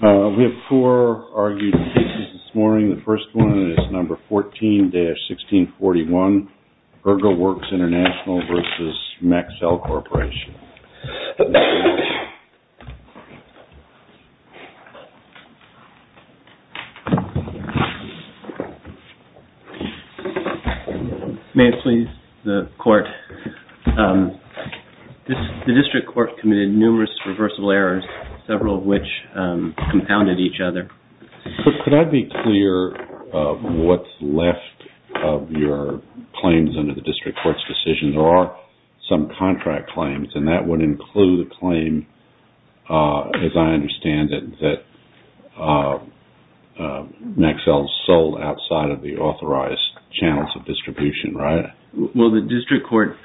We have four argued cases this morning. The first one is number 14-1641, Ergowerx International v. Maxell Corporation. The District Court committed numerous reversible errors, several of which compounded each other. Could I be clear of what's left of your claims under the District Court's decision? There are some contract claims, and that would include a claim, as I understand it, that Maxell sold outside of the authorized channels of distribution, right? Well, the District Court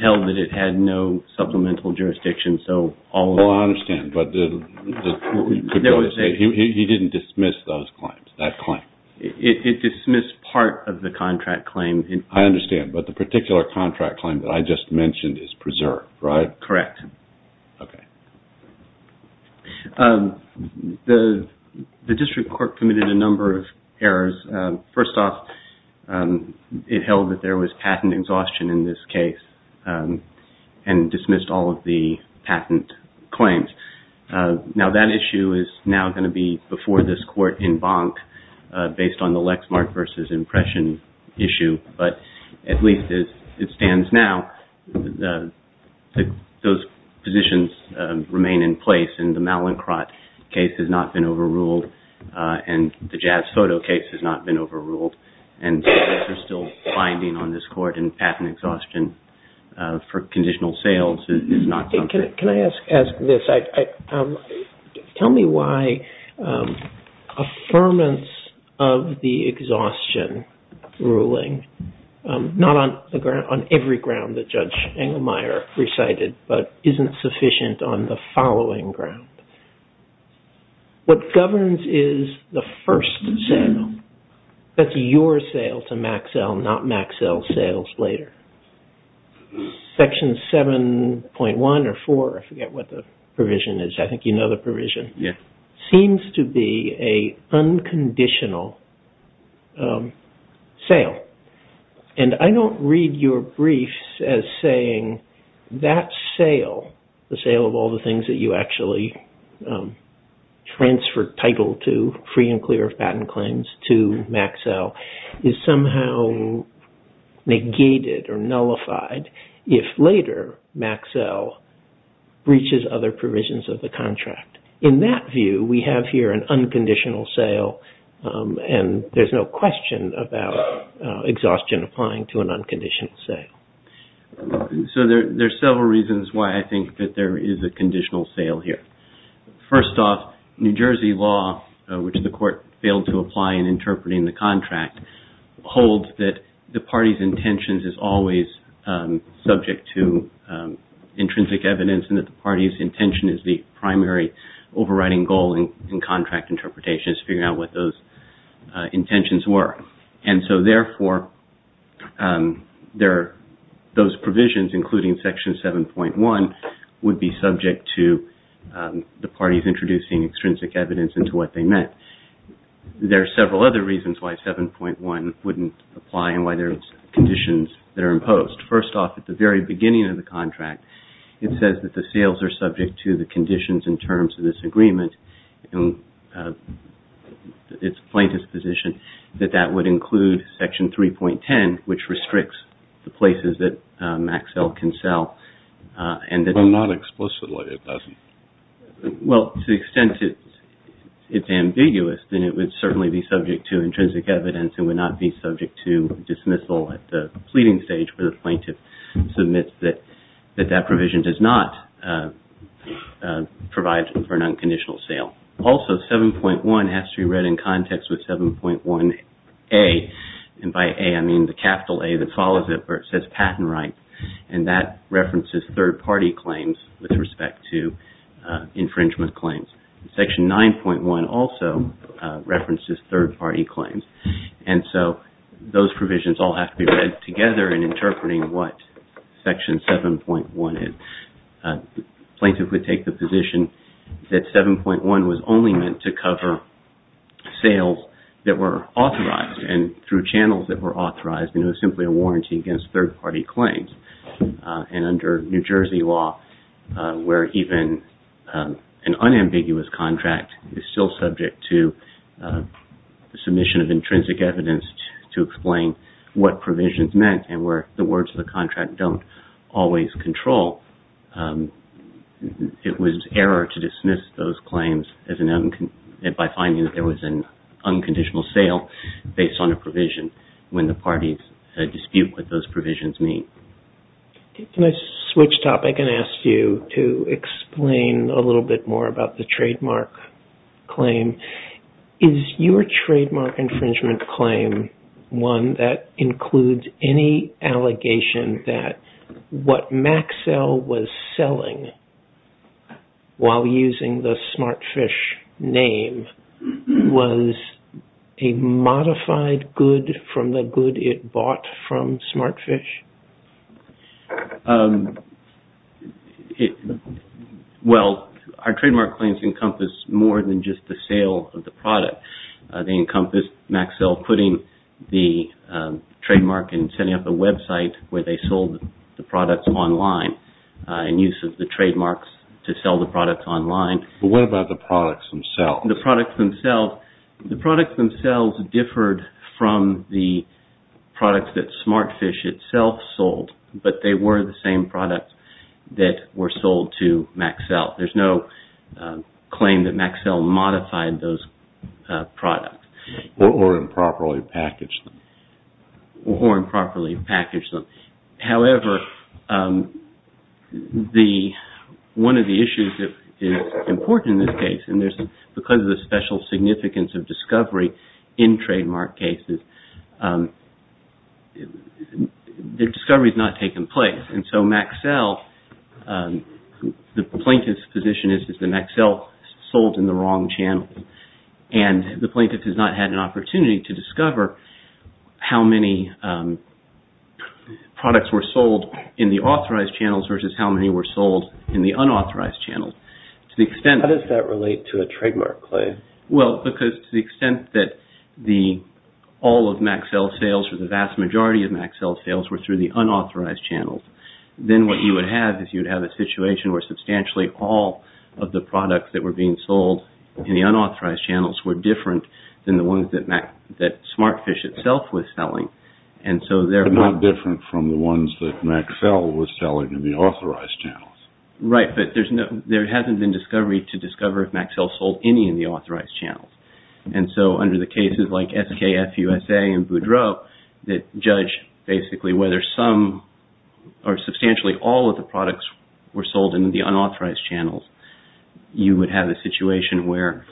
held that it had no supplemental jurisdiction. Oh, I understand, but he didn't dismiss that claim? It dismissed part of the contract claim. I understand, but the particular contract claim that I just mentioned is preserved, right? Correct. Okay. The District Court committed a number of errors. First off, it held that there was patent exhaustion in this case and dismissed all of the patent claims. Now, that issue is now going to be before this Court in Bank based on the Lexmark v. Impression issue, but at least as it stands now, those positions remain in place. The Mallincrott case has not been overruled, and the Jazz Photo case has not been overruled, and there's still finding on this Court in patent exhaustion for conditional sales. Can I ask this? Tell me why affirmance of the exhaustion ruling, not on every ground that Judge Engelmeyer recited, but isn't sufficient on the following ground. What governs is the first sale. That's your sale to Maxell, not Maxell's sales later. Section 7.1 or 4, I forget what the provision is. I think you know the provision. Yes. Seems to be an unconditional sale. I don't read your briefs as saying that sale, the sale of all the things that you actually transferred title to, free and clear of patent claims to Maxell, is somehow negated or nullified if later Maxell breaches other provisions of the contract. In that view, we have here an unconditional sale, and there's no question about exhaustion applying to an unconditional sale. There are several reasons why I think that there is a conditional sale here. First off, New Jersey law, which the Court failed to apply in interpreting the contract, holds that the party's intentions is always subject to intrinsic evidence, and that the party's intention is the primary overriding goal in contract interpretation is figuring out what those intentions were. Therefore, those provisions, including Section 7.1, would be subject to the parties introducing extrinsic evidence into what they meant. There are several other reasons why 7.1 wouldn't apply and why there are conditions that are imposed. First off, at the very beginning of the contract, it says that the sales are subject to the conditions and terms of this agreement. It's plaintiff's position that that would include Section 3.10, which restricts the places that Maxell can sell. But not explicitly, it doesn't. Well, to the extent it's ambiguous, then it would certainly be subject to intrinsic evidence and would not be subject to dismissal at the pleading stage where the plaintiff submits that that provision does not provide for an unconditional sale. Also, 7.1 has to be read in context with 7.1A, and by A I mean the capital A that follows it where it says patent right, and that references third-party claims with respect to infringement claims. Section 9.1 also references third-party claims, and so those provisions all have to be read together in interpreting what Section 7.1 is. Plaintiff would take the position that 7.1 was only meant to cover sales that were authorized and through channels that were authorized, and it was simply a warranty against third-party claims. And under New Jersey law, where even an unambiguous contract is still subject to submission of intrinsic evidence to explain what provisions meant and where the words of the contract don't always control, it was error to dismiss those claims by finding that there was an unconditional sale based on a provision when the parties dispute what those provisions mean. Can I switch topic and ask you to explain a little bit more about the trademark claim? Is your trademark infringement claim one that includes any allegation that what Maxell was selling while using the Smartfish name was a modified good from the good it bought from Smartfish? Well, our trademark claims encompass more than just the sale of the product. They encompass Maxell putting the trademark and setting up a website where they sold the products online in use of the trademarks to sell the products online. But what about the products themselves? The products themselves differed from the products that Smartfish itself sold, but they were the same products that were sold to Maxell. There's no claim that Maxell modified those products. Or improperly packaged them. Or improperly packaged them. However, one of the issues that is important in this case, and because of the special significance of discovery in trademark cases, the discovery has not taken place. And so Maxell, the plaintiff's position is that Maxell sold in the wrong channel. And the plaintiff has not had an opportunity to discover how many products were sold in the authorized channels versus how many were sold in the unauthorized channels. How does that relate to a trademark claim? Well, because to the extent that all of Maxell's sales or the vast majority of Maxell's sales were through the unauthorized channels, then what you would have is you would have a situation where substantially all of the products that were being sold in the unauthorized channels were different than the ones that Smartfish itself was selling. But not different from the ones that Maxell was selling in the authorized channels. Right, but there hasn't been discovery to discover if Maxell sold any in the authorized channels. And so under the cases like SKFUSA and Boudreaux that judge basically whether some or substantially all of the products were sold in the unauthorized channels, you would have a situation where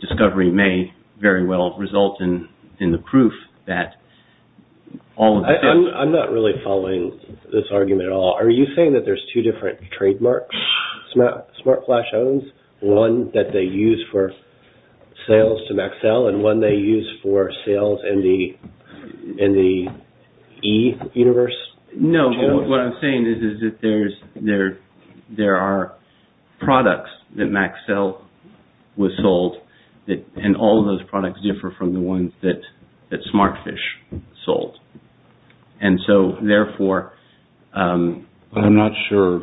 discovery may very well result in the proof that all of the... I'm not really following this argument at all. Are you saying that there's two different trademarks Smartflash owns? One that they use for sales to Maxell and one they use for sales in the E universe? No, what I'm saying is that there are products that Maxell was sold and all of those products differ from the ones that Smartfish sold. I'm not sure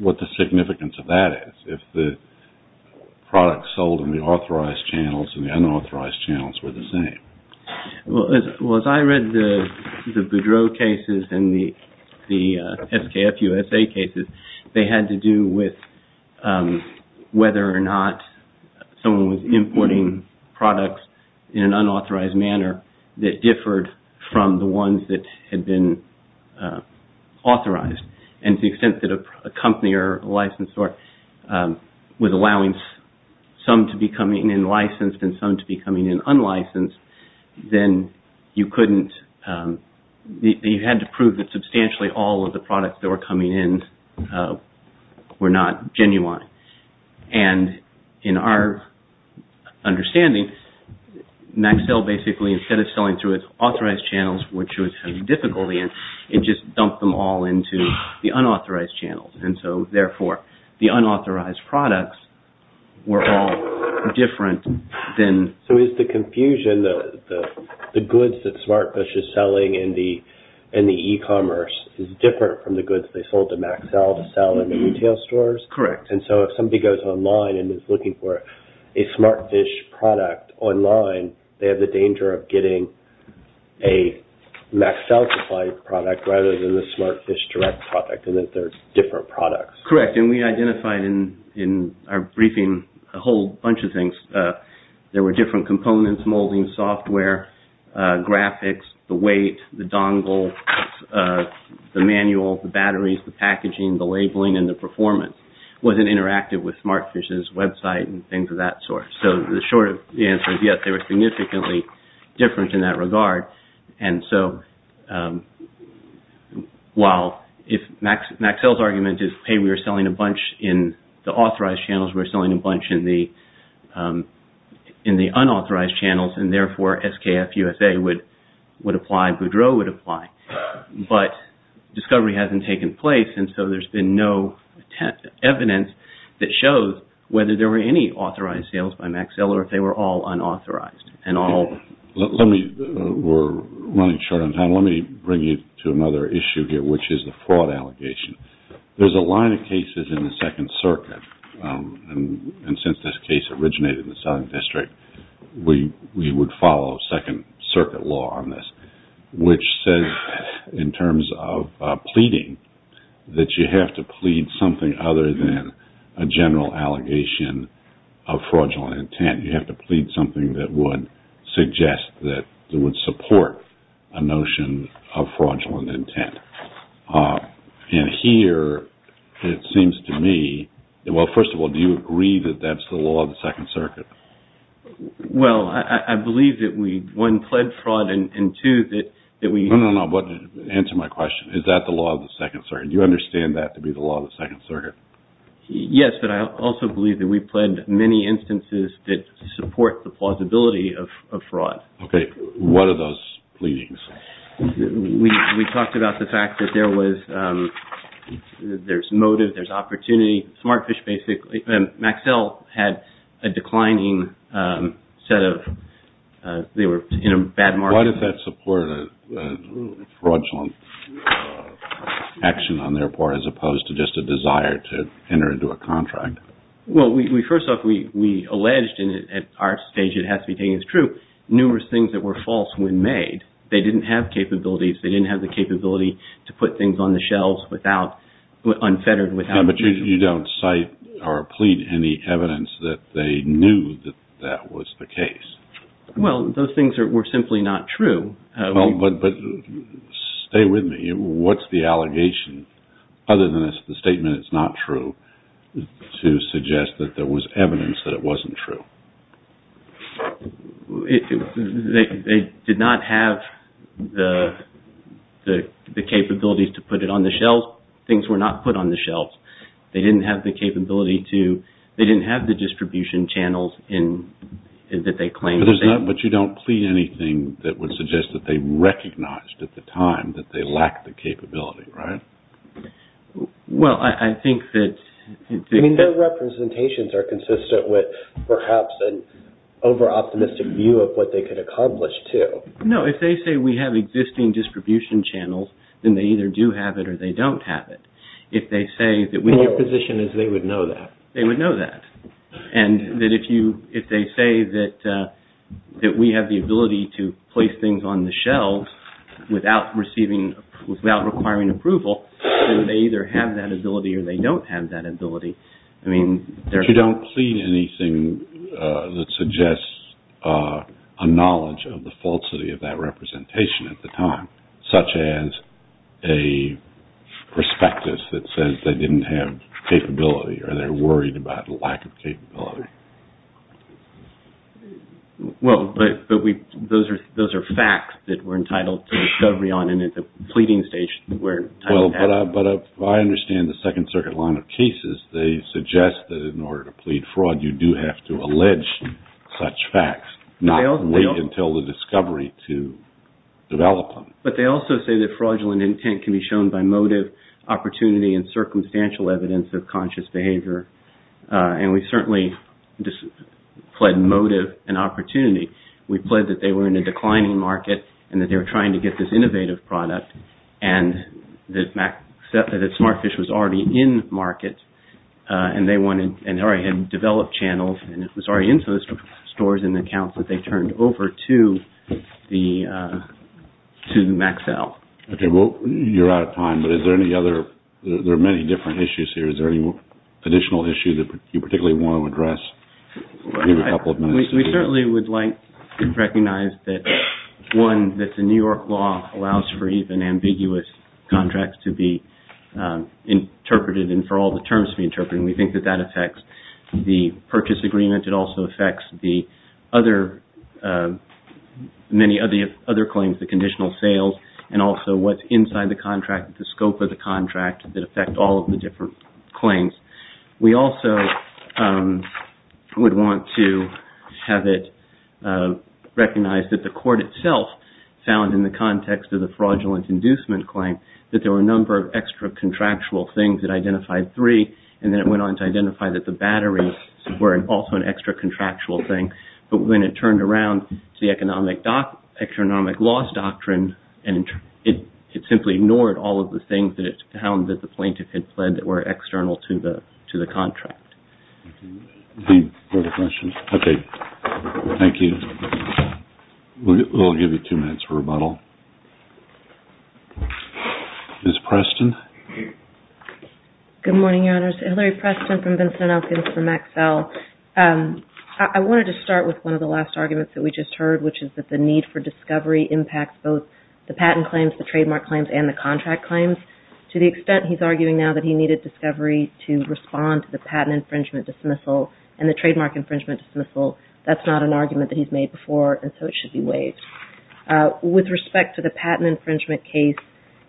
what the significance of that is. If the products sold in the authorized channels and the unauthorized channels were the same. Well, as I read the Boudreaux cases and the SKFUSA cases, they had to do with whether or not someone was importing products in an unauthorized manner that differed from the ones that had been authorized. And to the extent that a company or a licensor was allowing some to be coming in licensed and some to be coming in unlicensed, then you had to prove that substantially all of the products that were coming in were not genuine. And in our understanding, Maxell basically, instead of selling through its authorized channels, which it was having difficulty in, it just dumped them all into the unauthorized channels. And so, therefore, the unauthorized products were all different than... So, is the confusion that the goods that Smartfish is selling in the e-commerce is different from the goods they sold to Maxell to sell in the retail stores? Correct. And so, if somebody goes online and is looking for a Smartfish product online, they have the danger of getting a Maxell-supplied product rather than the Smartfish direct product and that they're different products. Correct. And we identified in our briefing a whole bunch of things. There were different components, molding software, graphics, the weight, the dongle, the manual, the batteries, the packaging, the labeling, and the performance. Was it interactive with Smartfish's website and things of that sort? So, the short answer is yes, they were significantly different in that regard. And so, while Maxell's argument is, hey, we are selling a bunch in the authorized channels, we're selling a bunch in the unauthorized channels, and, therefore, SKF USA would apply, Boudreaux would apply, but discovery hasn't taken place, and so there's been no evidence that shows whether there were any authorized sales by Maxell or if they were all unauthorized. We're running short on time. Let me bring you to another issue here, which is the fraud allegation. There's a line of cases in the Second Circuit, and since this case originated in the Southern District, we would follow Second Circuit law on this, which says, in terms of pleading, that you have to plead something other than a general allegation of fraudulent intent. You have to plead something that would suggest that it would support a notion of fraudulent intent. And here, it seems to me, well, first of all, do you agree that that's the law of the Second Circuit? Well, I believe that we, one, pled fraud, and two, that we... No, no, no, answer my question. Is that the law of the Second Circuit? Do you understand that to be the law of the Second Circuit? Yes, but I also believe that we pled many instances that support the plausibility of fraud. Okay. What are those pleadings? We talked about the fact that there was, there's motive, there's opportunity. Smartfish basically, Maxell had a declining set of, they were in a bad market. Why did that support a fraudulent action on their part as opposed to just a desire to enter into a contract? Well, first off, we alleged, and at our stage it has to be taken as true, numerous things that were false when made. They didn't have capabilities. They didn't have the capability to put things on the shelves unfettered without... But you don't cite or plead any evidence that they knew that that was the case. Well, those things were simply not true. But stay with me. What's the allegation, other than the statement it's not true, to suggest that there was evidence that it wasn't true? They did not have the capabilities to put it on the shelves. Things were not put on the shelves. They didn't have the capability to, they didn't have the distribution channels that they claimed. But you don't plead anything that would suggest that they recognized at the time that they lacked the capability, right? Well, I think that... I mean, their representations are consistent with perhaps an over-optimistic view of what they could accomplish too. No, if they say we have existing distribution channels, then they either do have it or they don't have it. Your position is they would know that. They would know that. And that if they say that we have the ability to place things on the shelves without requiring approval, then they either have that ability or they don't have that ability. But you don't plead anything that suggests a knowledge of the falsity of that representation at the time, such as a prospectus that says they didn't have capability or they're worried about lack of capability. Well, but those are facts that we're entitled to discovery on, and at the pleading stage, we're entitled to that. Well, but if I understand the Second Circuit line of cases, they suggest that in order to plead fraud, you do have to allege such facts, not wait until the discovery to develop them. But they also say that fraudulent intent can be shown by motive, opportunity, and circumstantial evidence of conscious behavior. And we certainly plead motive and opportunity. We plead that they were in a declining market and that they were trying to get this innovative product and that Smartfish was already in market and they already had developed channels and it was already in those stores in the accounts that they turned over to Maxell. Okay, well, you're out of time, but is there any other – there are many different issues here. Is there any additional issue that you particularly want to address? We certainly would like to recognize that, one, that the New York law allows for even ambiguous contracts to be interpreted and for all the terms to be interpreted, and we think that that affects the purchase agreement. It also affects the other – many of the other claims, the conditional sales, and also what's inside the contract, the scope of the contract that affect all of the different claims. We also would want to have it recognized that the court itself found in the context of the fraudulent inducement claim that there were a number of extra contractual things that identified three, and then it went on to identify that the batteries were also an extra contractual thing. But when it turned around to the economic – economic loss doctrine, it simply ignored all of the things that it found that the plaintiff had pled that were external to the contract. Any further questions? Okay, thank you. We'll give you two minutes for rebuttal. Ms. Preston? Good morning, Your Honors. Hillary Preston from Vincent Elkins from Maxell. I wanted to start with one of the last arguments that we just heard, which is that the need for discovery impacts both the patent claims, the trademark claims, and the contract claims. To the extent he's arguing now that he needed discovery to respond to the patent infringement dismissal and the trademark infringement dismissal, that's not an argument that he's made before, and so it should be waived. With respect to the patent infringement case,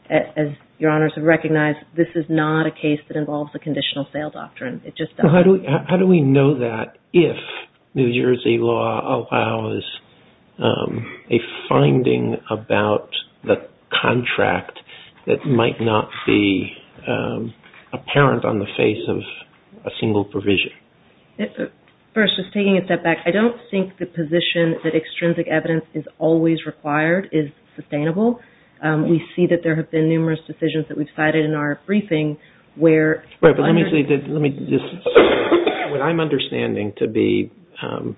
as Your Honors have recognized, this is not a case that involves a conditional sale doctrine. It just doesn't. How do we know that if New Jersey law allows a finding about the contract that might not be apparent on the face of a single provision? First, just taking a step back, I don't think the position that extrinsic evidence is always required is sustainable. We see that there have been numerous decisions that we've cited in our briefing where – What I'm understanding to be the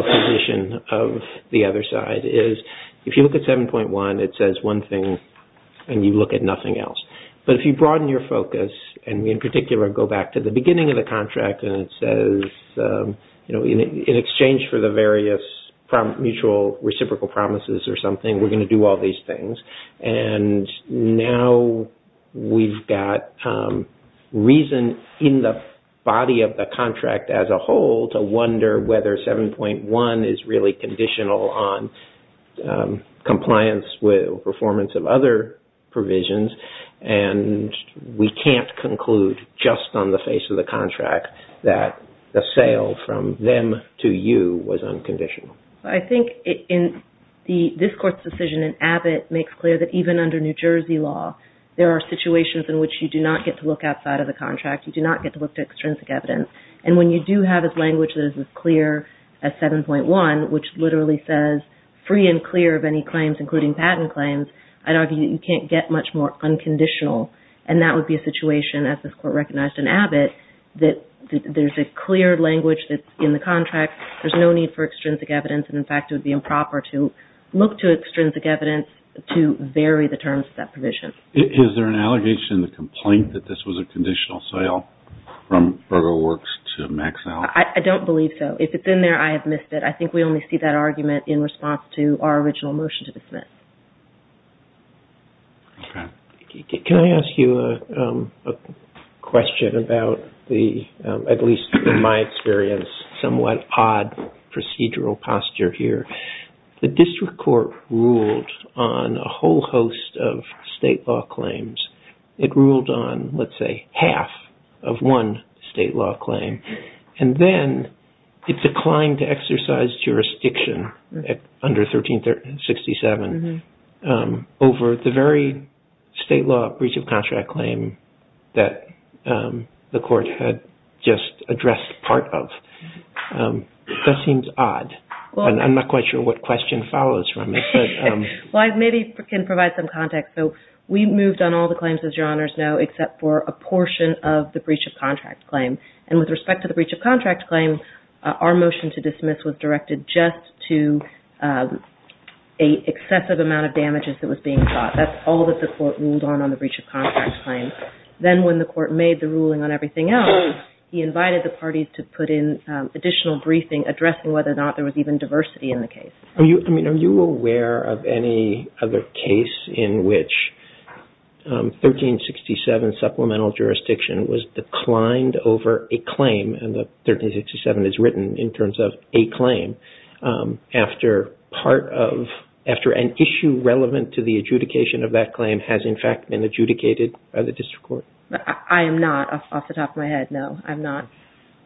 position of the other side is if you look at 7.1, it says one thing and you look at nothing else. But if you broaden your focus and in particular go back to the beginning of the contract and it says, in exchange for the various mutual reciprocal promises or something, we're going to do all these things. Now we've got reason in the body of the contract as a whole to wonder whether 7.1 is really conditional on compliance with performance of other provisions, and we can't conclude just on the face of the contract that the sale from them to you was unconditional. I think this Court's decision in Abbott makes clear that even under New Jersey law, there are situations in which you do not get to look outside of the contract. You do not get to look to extrinsic evidence. And when you do have a language that is as clear as 7.1, which literally says free and clear of any claims, including patent claims, I'd argue that you can't get much more unconditional. And that would be a situation, as this Court recognized in Abbott, that there's a clear language that's in the contract. There's no need for extrinsic evidence, and in fact, it would be improper to look to extrinsic evidence to vary the terms of that provision. Is there an allegation in the complaint that this was a conditional sale from Berger Works to Maxell? I don't believe so. If it's in there, I have missed it. I think we only see that argument in response to our original motion to dismiss. Okay. Can I ask you a question about the, at least in my experience, somewhat odd procedural posture here? The district court ruled on a whole host of state law claims. It ruled on, let's say, half of one state law claim. And then it declined to exercise jurisdiction under 1367 over the very state law breach of contract claim that the Court had just addressed part of. That seems odd, and I'm not quite sure what question follows from it. Well, I maybe can provide some context. So we moved on all the claims, as Your Honors know, except for a portion of the breach of contract claim. And with respect to the breach of contract claim, our motion to dismiss was directed just to an excessive amount of damages that was being sought. That's all that the Court ruled on on the breach of contract claim. Then when the Court made the ruling on everything else, he invited the parties to put in additional briefing addressing whether or not there was even diversity in the case. Are you aware of any other case in which 1367 supplemental jurisdiction was declined over a claim, and 1367 is written in terms of a claim, after an issue relevant to the adjudication of that claim has, in fact, been adjudicated by the district court? I am not, off the top of my head, no. I'm not.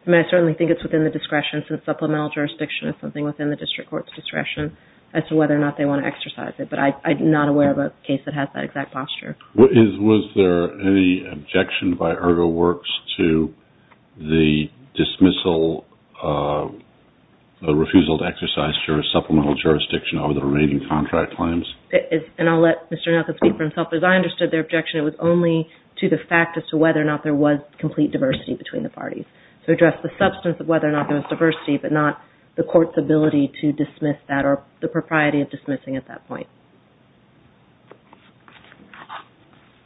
I mean, I certainly think it's within the discretion since supplemental jurisdiction is something within the district court's discretion as to whether or not they want to exercise it. But I'm not aware of a case that has that exact posture. Was there any objection by Ergoworks to the dismissal, the refusal to exercise supplemental jurisdiction over the remaining contract claims? And I'll let Mr. Nelson speak for himself. As I understood their objection, it was only to the fact as to whether or not there was complete diversity between the parties. To address the substance of whether or not there was diversity, but not the Court's ability to dismiss that or the propriety of dismissing at that point.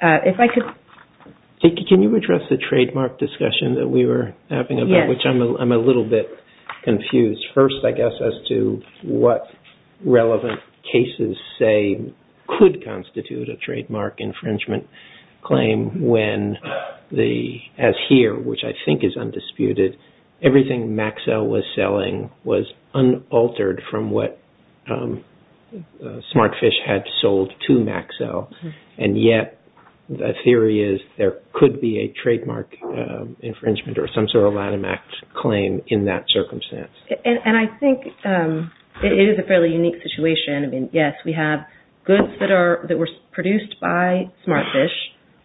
Can you address the trademark discussion that we were having, which I'm a little bit confused. First, I guess, as to what relevant cases say could constitute a trademark infringement claim when, as here, which I think is undisputed, everything Maxell was selling was unaltered from what Smartfish had sold to Maxell. And yet, the theory is there could be a trademark infringement or some sort of item act claim in that circumstance. And I think it is a fairly unique situation. I mean, yes, we have goods that were produced by Smartfish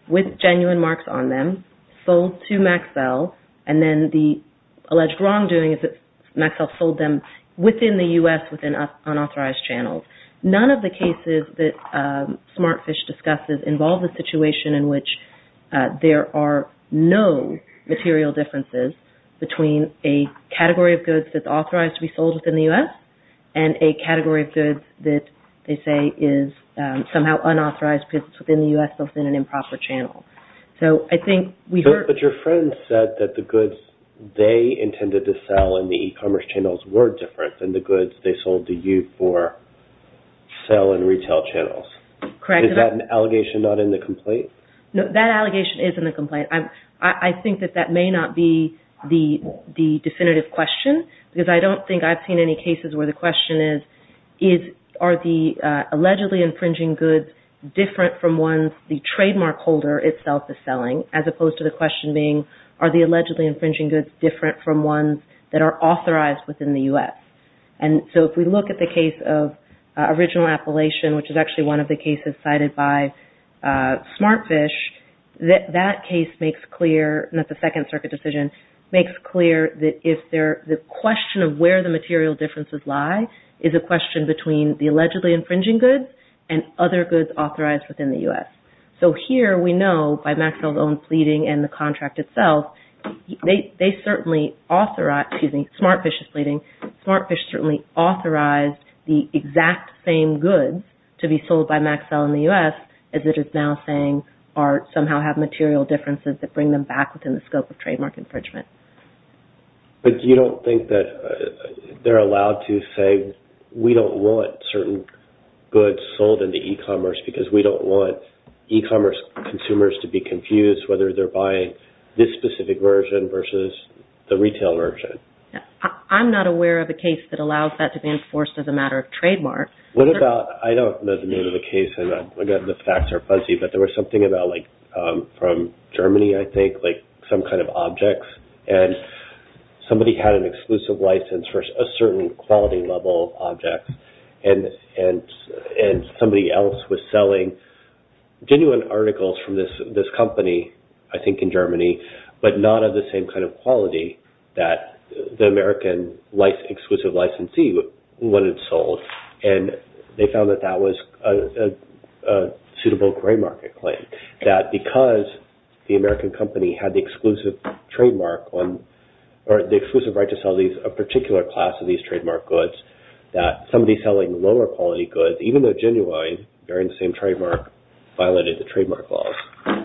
with genuine marks on them, sold to Maxell, and then the alleged wrongdoing is that Maxell sold them within the U.S. within unauthorized channels. None of the cases that Smartfish discusses involve the situation in which there are no material differences between a category of goods that's authorized to be sold within the U.S. and a category of goods that they say is somehow unauthorized because it's within the U.S. within an improper channel. But your friend said that the goods they intended to sell in the e-commerce channels were different than the goods they sold to you for sale in retail channels. Correct. Is that an allegation not in the complaint? No, that allegation is in the complaint. I think that that may not be the definitive question because I don't think I've seen any cases where the question is, are the allegedly infringing goods different from ones the trademark holder itself is selling as opposed to the question being, are the allegedly infringing goods different from ones that are authorized within the U.S.? And so if we look at the case of Original Appalachian, which is actually one of the cases cited by Smartfish, that case makes clear, and that's a Second Circuit decision, makes clear that the question of where the material differences lie is a question between the allegedly infringing goods and other goods authorized within the U.S. So here we know by Maxell's own pleading and the contract itself, Smartfish is pleading, Smartfish certainly authorized the exact same goods to be sold by Maxell in the U.S. as it is now saying somehow have material differences that bring them back within the scope of trademark infringement. But you don't think that they're allowed to say, we don't want certain goods sold in the e-commerce because we don't want e-commerce consumers to be confused whether they're buying this specific version versus the retail version? I'm not aware of a case that allows that to be enforced as a matter of trademark. What about, I don't know the name of the case and the facts are fuzzy, but there was something about like from Germany, I think, like some kind of objects and somebody had an exclusive license for a certain quality level of objects and somebody else was selling genuine articles from this company, I think in Germany, but not of the same kind of quality that the American exclusive licensee wanted sold and they found that that was a suitable gray market claim that because the American company had the exclusive trademark or the exclusive right to sell a particular class of these trademark goods that somebody selling lower quality goods, even though genuine, bearing the same trademark, violated the trademark laws.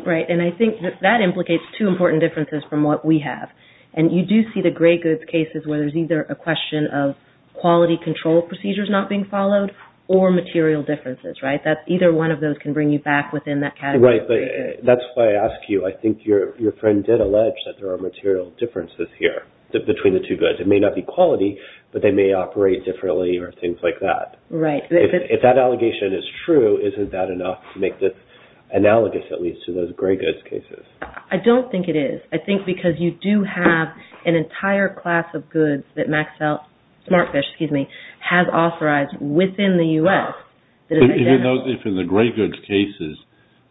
Right, and I think that that implicates two important differences from what we have and you do see the gray goods cases where there's either a question of quality control procedures not being followed or material differences, right? That either one of those can bring you back within that category of gray goods. Right, but that's why I ask you. I think your friend did allege that there are material differences here between the two goods. It may not be quality, but they may operate differently or things like that. Right. If that allegation is true, isn't that enough to make this analogous at least to those gray goods cases? I don't think it is. I think because you do have an entire class of goods that Smartfish has authorized within the U.S. If in the gray goods cases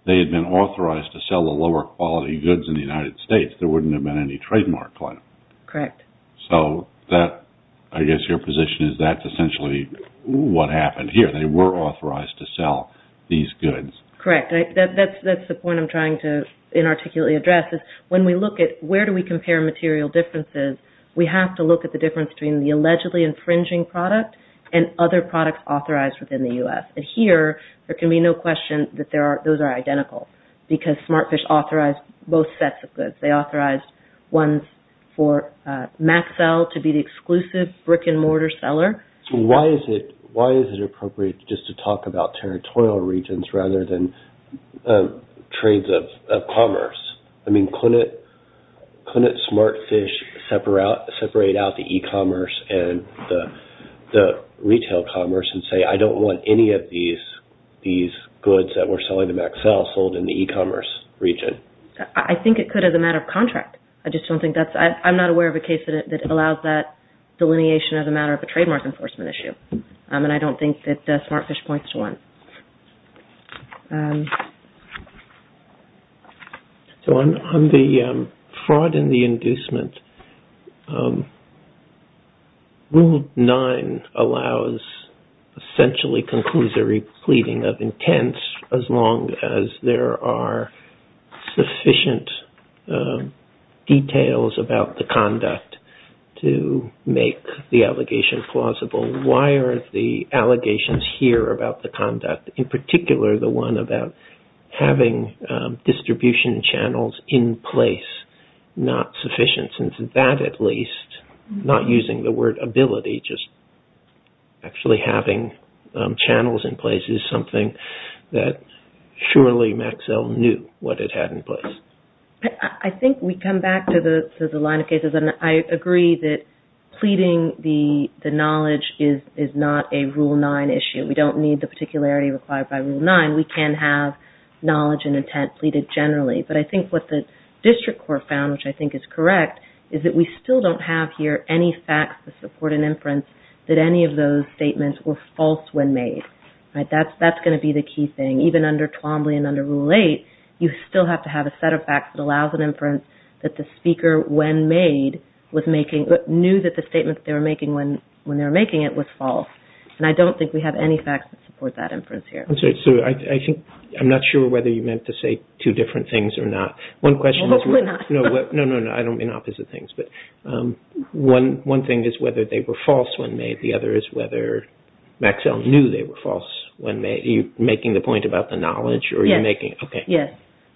they had been authorized to sell the lower quality goods in the United States, there wouldn't have been any trademark claim. Correct. So I guess your position is that's essentially what happened here. They were authorized to sell these goods. Correct. That's the point I'm trying to inarticulately address is when we look at where do we compare material differences, we have to look at the difference between the allegedly infringing product and other products authorized within the U.S. Here, there can be no question that those are identical because Smartfish authorized both sets of goods. They authorized ones for Maxell to be the exclusive brick-and-mortar seller. Why is it appropriate just to talk about territorial regions rather than trades of commerce? Couldn't Smartfish separate out the e-commerce and the retail commerce and say, I don't want any of these goods that we're selling to Maxell sold in the e-commerce region? I think it could as a matter of contract. I'm not aware of a case that allows that delineation as a matter of a trademark enforcement issue. And I don't think that Smartfish points to one. So on the fraud and the inducement, Rule 9 allows essentially conclusory pleading of intent as long as there are sufficient details about the conduct to make the allegation plausible. Why are the allegations here about the conduct, in particular the one about having distribution channels in place not sufficient? Since that at least, not using the word ability, just actually having channels in place is something that surely Maxell knew what it had in place. I think we come back to the line of cases. I agree that pleading the knowledge is not a Rule 9 issue. We don't need the particularity required by Rule 9. We can have knowledge and intent pleaded generally. But I think what the district court found, which I think is correct, is that we still don't have here any facts to support an inference that any of those statements were false when made. That's going to be the key thing. Even under Twombly and under Rule 8, you still have to have a set of facts that allows an inference that the speaker, when made, knew that the statement they were making when they were making it was false. I don't think we have any facts that support that inference here. I'm not sure whether you meant to say two different things or not. Hopefully not. No, I don't mean opposite things. One thing is whether they were false when made. The other is whether Maxell knew they were false when made. Are you making the point about the knowledge? Yes.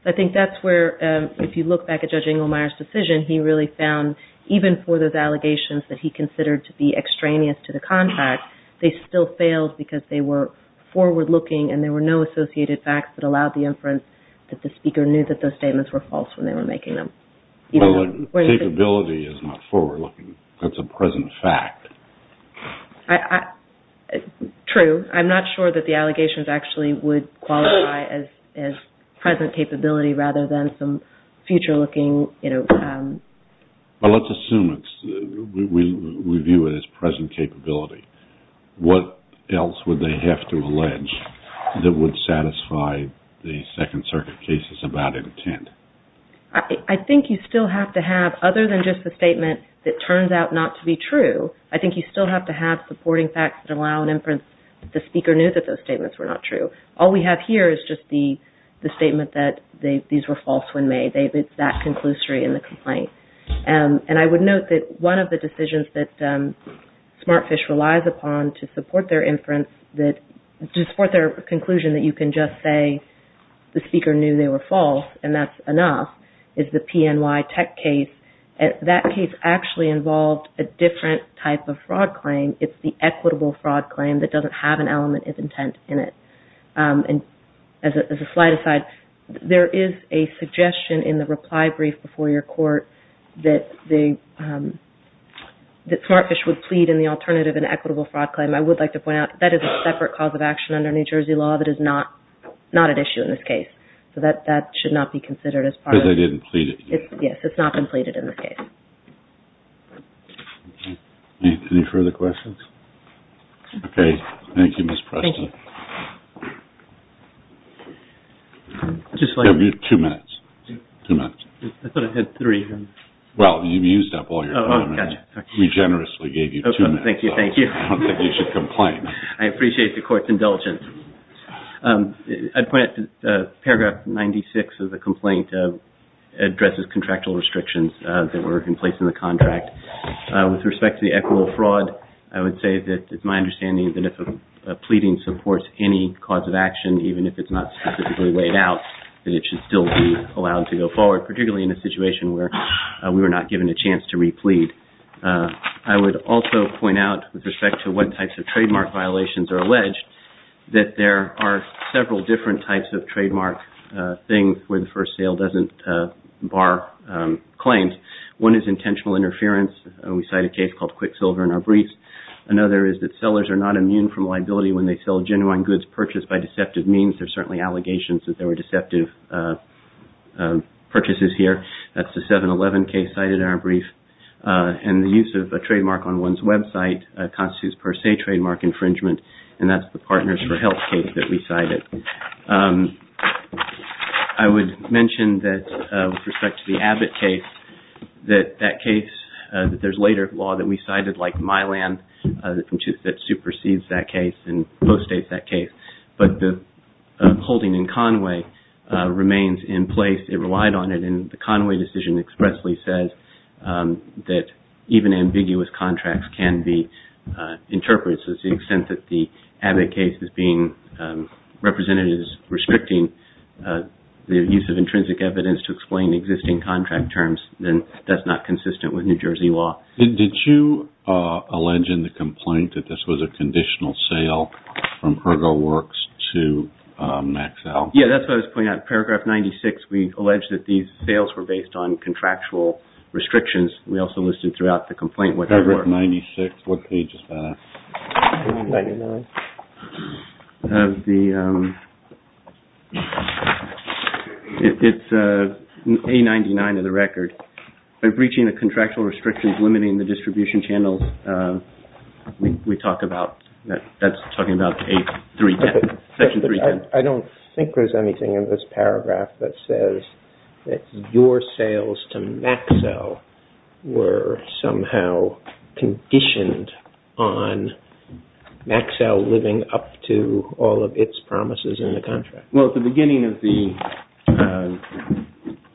I think that's where, if you look back at Judge Engelmeyer's decision, he really found, even for those allegations that he considered to be extraneous to the contract, they still failed because they were forward-looking and there were no associated facts that allowed the inference that the speaker knew that those statements were false when they were making them. Capability is not forward-looking. That's a present fact. True. I'm not sure that the allegations actually would qualify as present capability rather than some future-looking... Let's assume we view it as present capability. What else would they have to allege that would satisfy the Second Circuit cases about intent? I think you still have to have, other than just the statement that turns out not to be true, I think you still have to have supporting facts that allow an inference that the speaker knew that those statements were not true. All we have here is just the statement that these were false when made. It's that conclusory in the complaint. And I would note that one of the decisions that Smartfish relies upon to support their inference, to support their conclusion that you can just say the speaker knew they were false and that's enough, is the PNY Tech case. That case actually involved a different type of fraud claim. It's the equitable fraud claim that doesn't have an element of intent in it. As a slide aside, there is a suggestion in the reply brief before your court that Smartfish would plead in the alternative and equitable fraud claim. I would like to point out that is a separate cause of action under New Jersey law that is not at issue in this case. That should not be considered as part of... Because they didn't plead it. Yes, it's not been pleaded in this case. Any further questions? Okay. Thank you, Ms. Preston. Thank you. Two minutes. Two minutes. I thought I had three. Well, you've used up all your time. We generously gave you two minutes. Thank you. I don't think you should complain. I appreciate the court's indulgence. I'd point out that Paragraph 96 of the complaint addresses contractual restrictions that were in place in the contract. With respect to the equitable fraud, I would say that it's my understanding that if a pleading supports any cause of action, even if it's not specifically laid out, that it should still be allowed to go forward, particularly in a situation where we were not given a chance to replead. I would also point out with respect to what types of trademark violations are alleged that there are several different types of trademark things where the first sale doesn't bar claims. One is intentional interference. We cite a case called Quicksilver in our brief. Another is that sellers are not immune from liability when they sell genuine goods purchased by deceptive means. There are certainly allegations that there were deceptive purchases here. That's the 7-11 case cited in our brief. And the use of a trademark on one's website constitutes per se trademark infringement, and that's the Partners for Health case that we cited. I would mention that with respect to the Abbott case, that there's later law that we cited like Mylan that supersedes that case and postdates that case, but the holding in Conway remains in place. It relied on it, and the Conway decision expressly says that even ambiguous contracts can be interpreted. So to the extent that the Abbott case is being represented as restricting the use of intrinsic evidence to explain existing contract terms, then that's not consistent with New Jersey law. Did you allege in the complaint that this was a conditional sale from Ergo Works to Maxell? Yes, that's what I was pointing out. Paragraph 96, we allege that these sales were based on contractual restrictions. We also listed throughout the complaint what they were. Paragraph 96, what page is that? Page 99. It's page 99 of the record. By breaching the contractual restrictions limiting the distribution channels, we talk about, that's talking about page 310, section 310. I don't think there's anything in this paragraph that says that your sales to Maxell were somehow conditioned on Maxell living up to all of its promises in the contract. Well, at the beginning of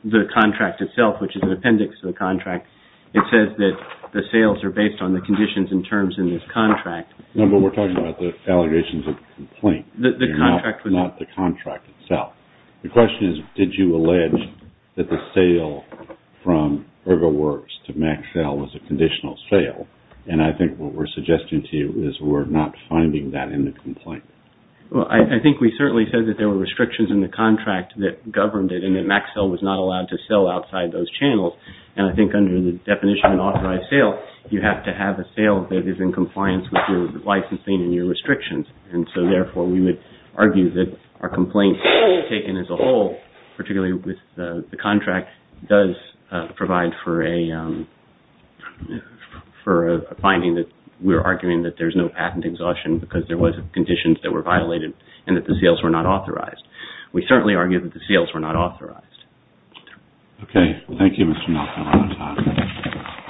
the contract itself, which is an appendix to the contract, it says that the sales are based on the conditions and terms in this contract. No, but we're talking about the allegations of the complaint. Not the contract itself. The question is, did you allege that the sale from Ergo Works to Maxell was a conditional sale? And I think what we're suggesting to you is we're not finding that in the complaint. Well, I think we certainly said that there were restrictions in the contract that governed it and that Maxell was not allowed to sell outside those channels. And I think under the definition of an authorized sale, you have to have a sale that is in compliance with your licensing and your restrictions. And so, therefore, we would argue that our complaint taken as a whole, particularly with the contract, does provide for a finding that we're arguing that there's no patent exhaustion because there was conditions that were violated and that the sales were not authorized. We certainly argue that the sales were not authorized. Okay. Thank you, Mr. Malcolm.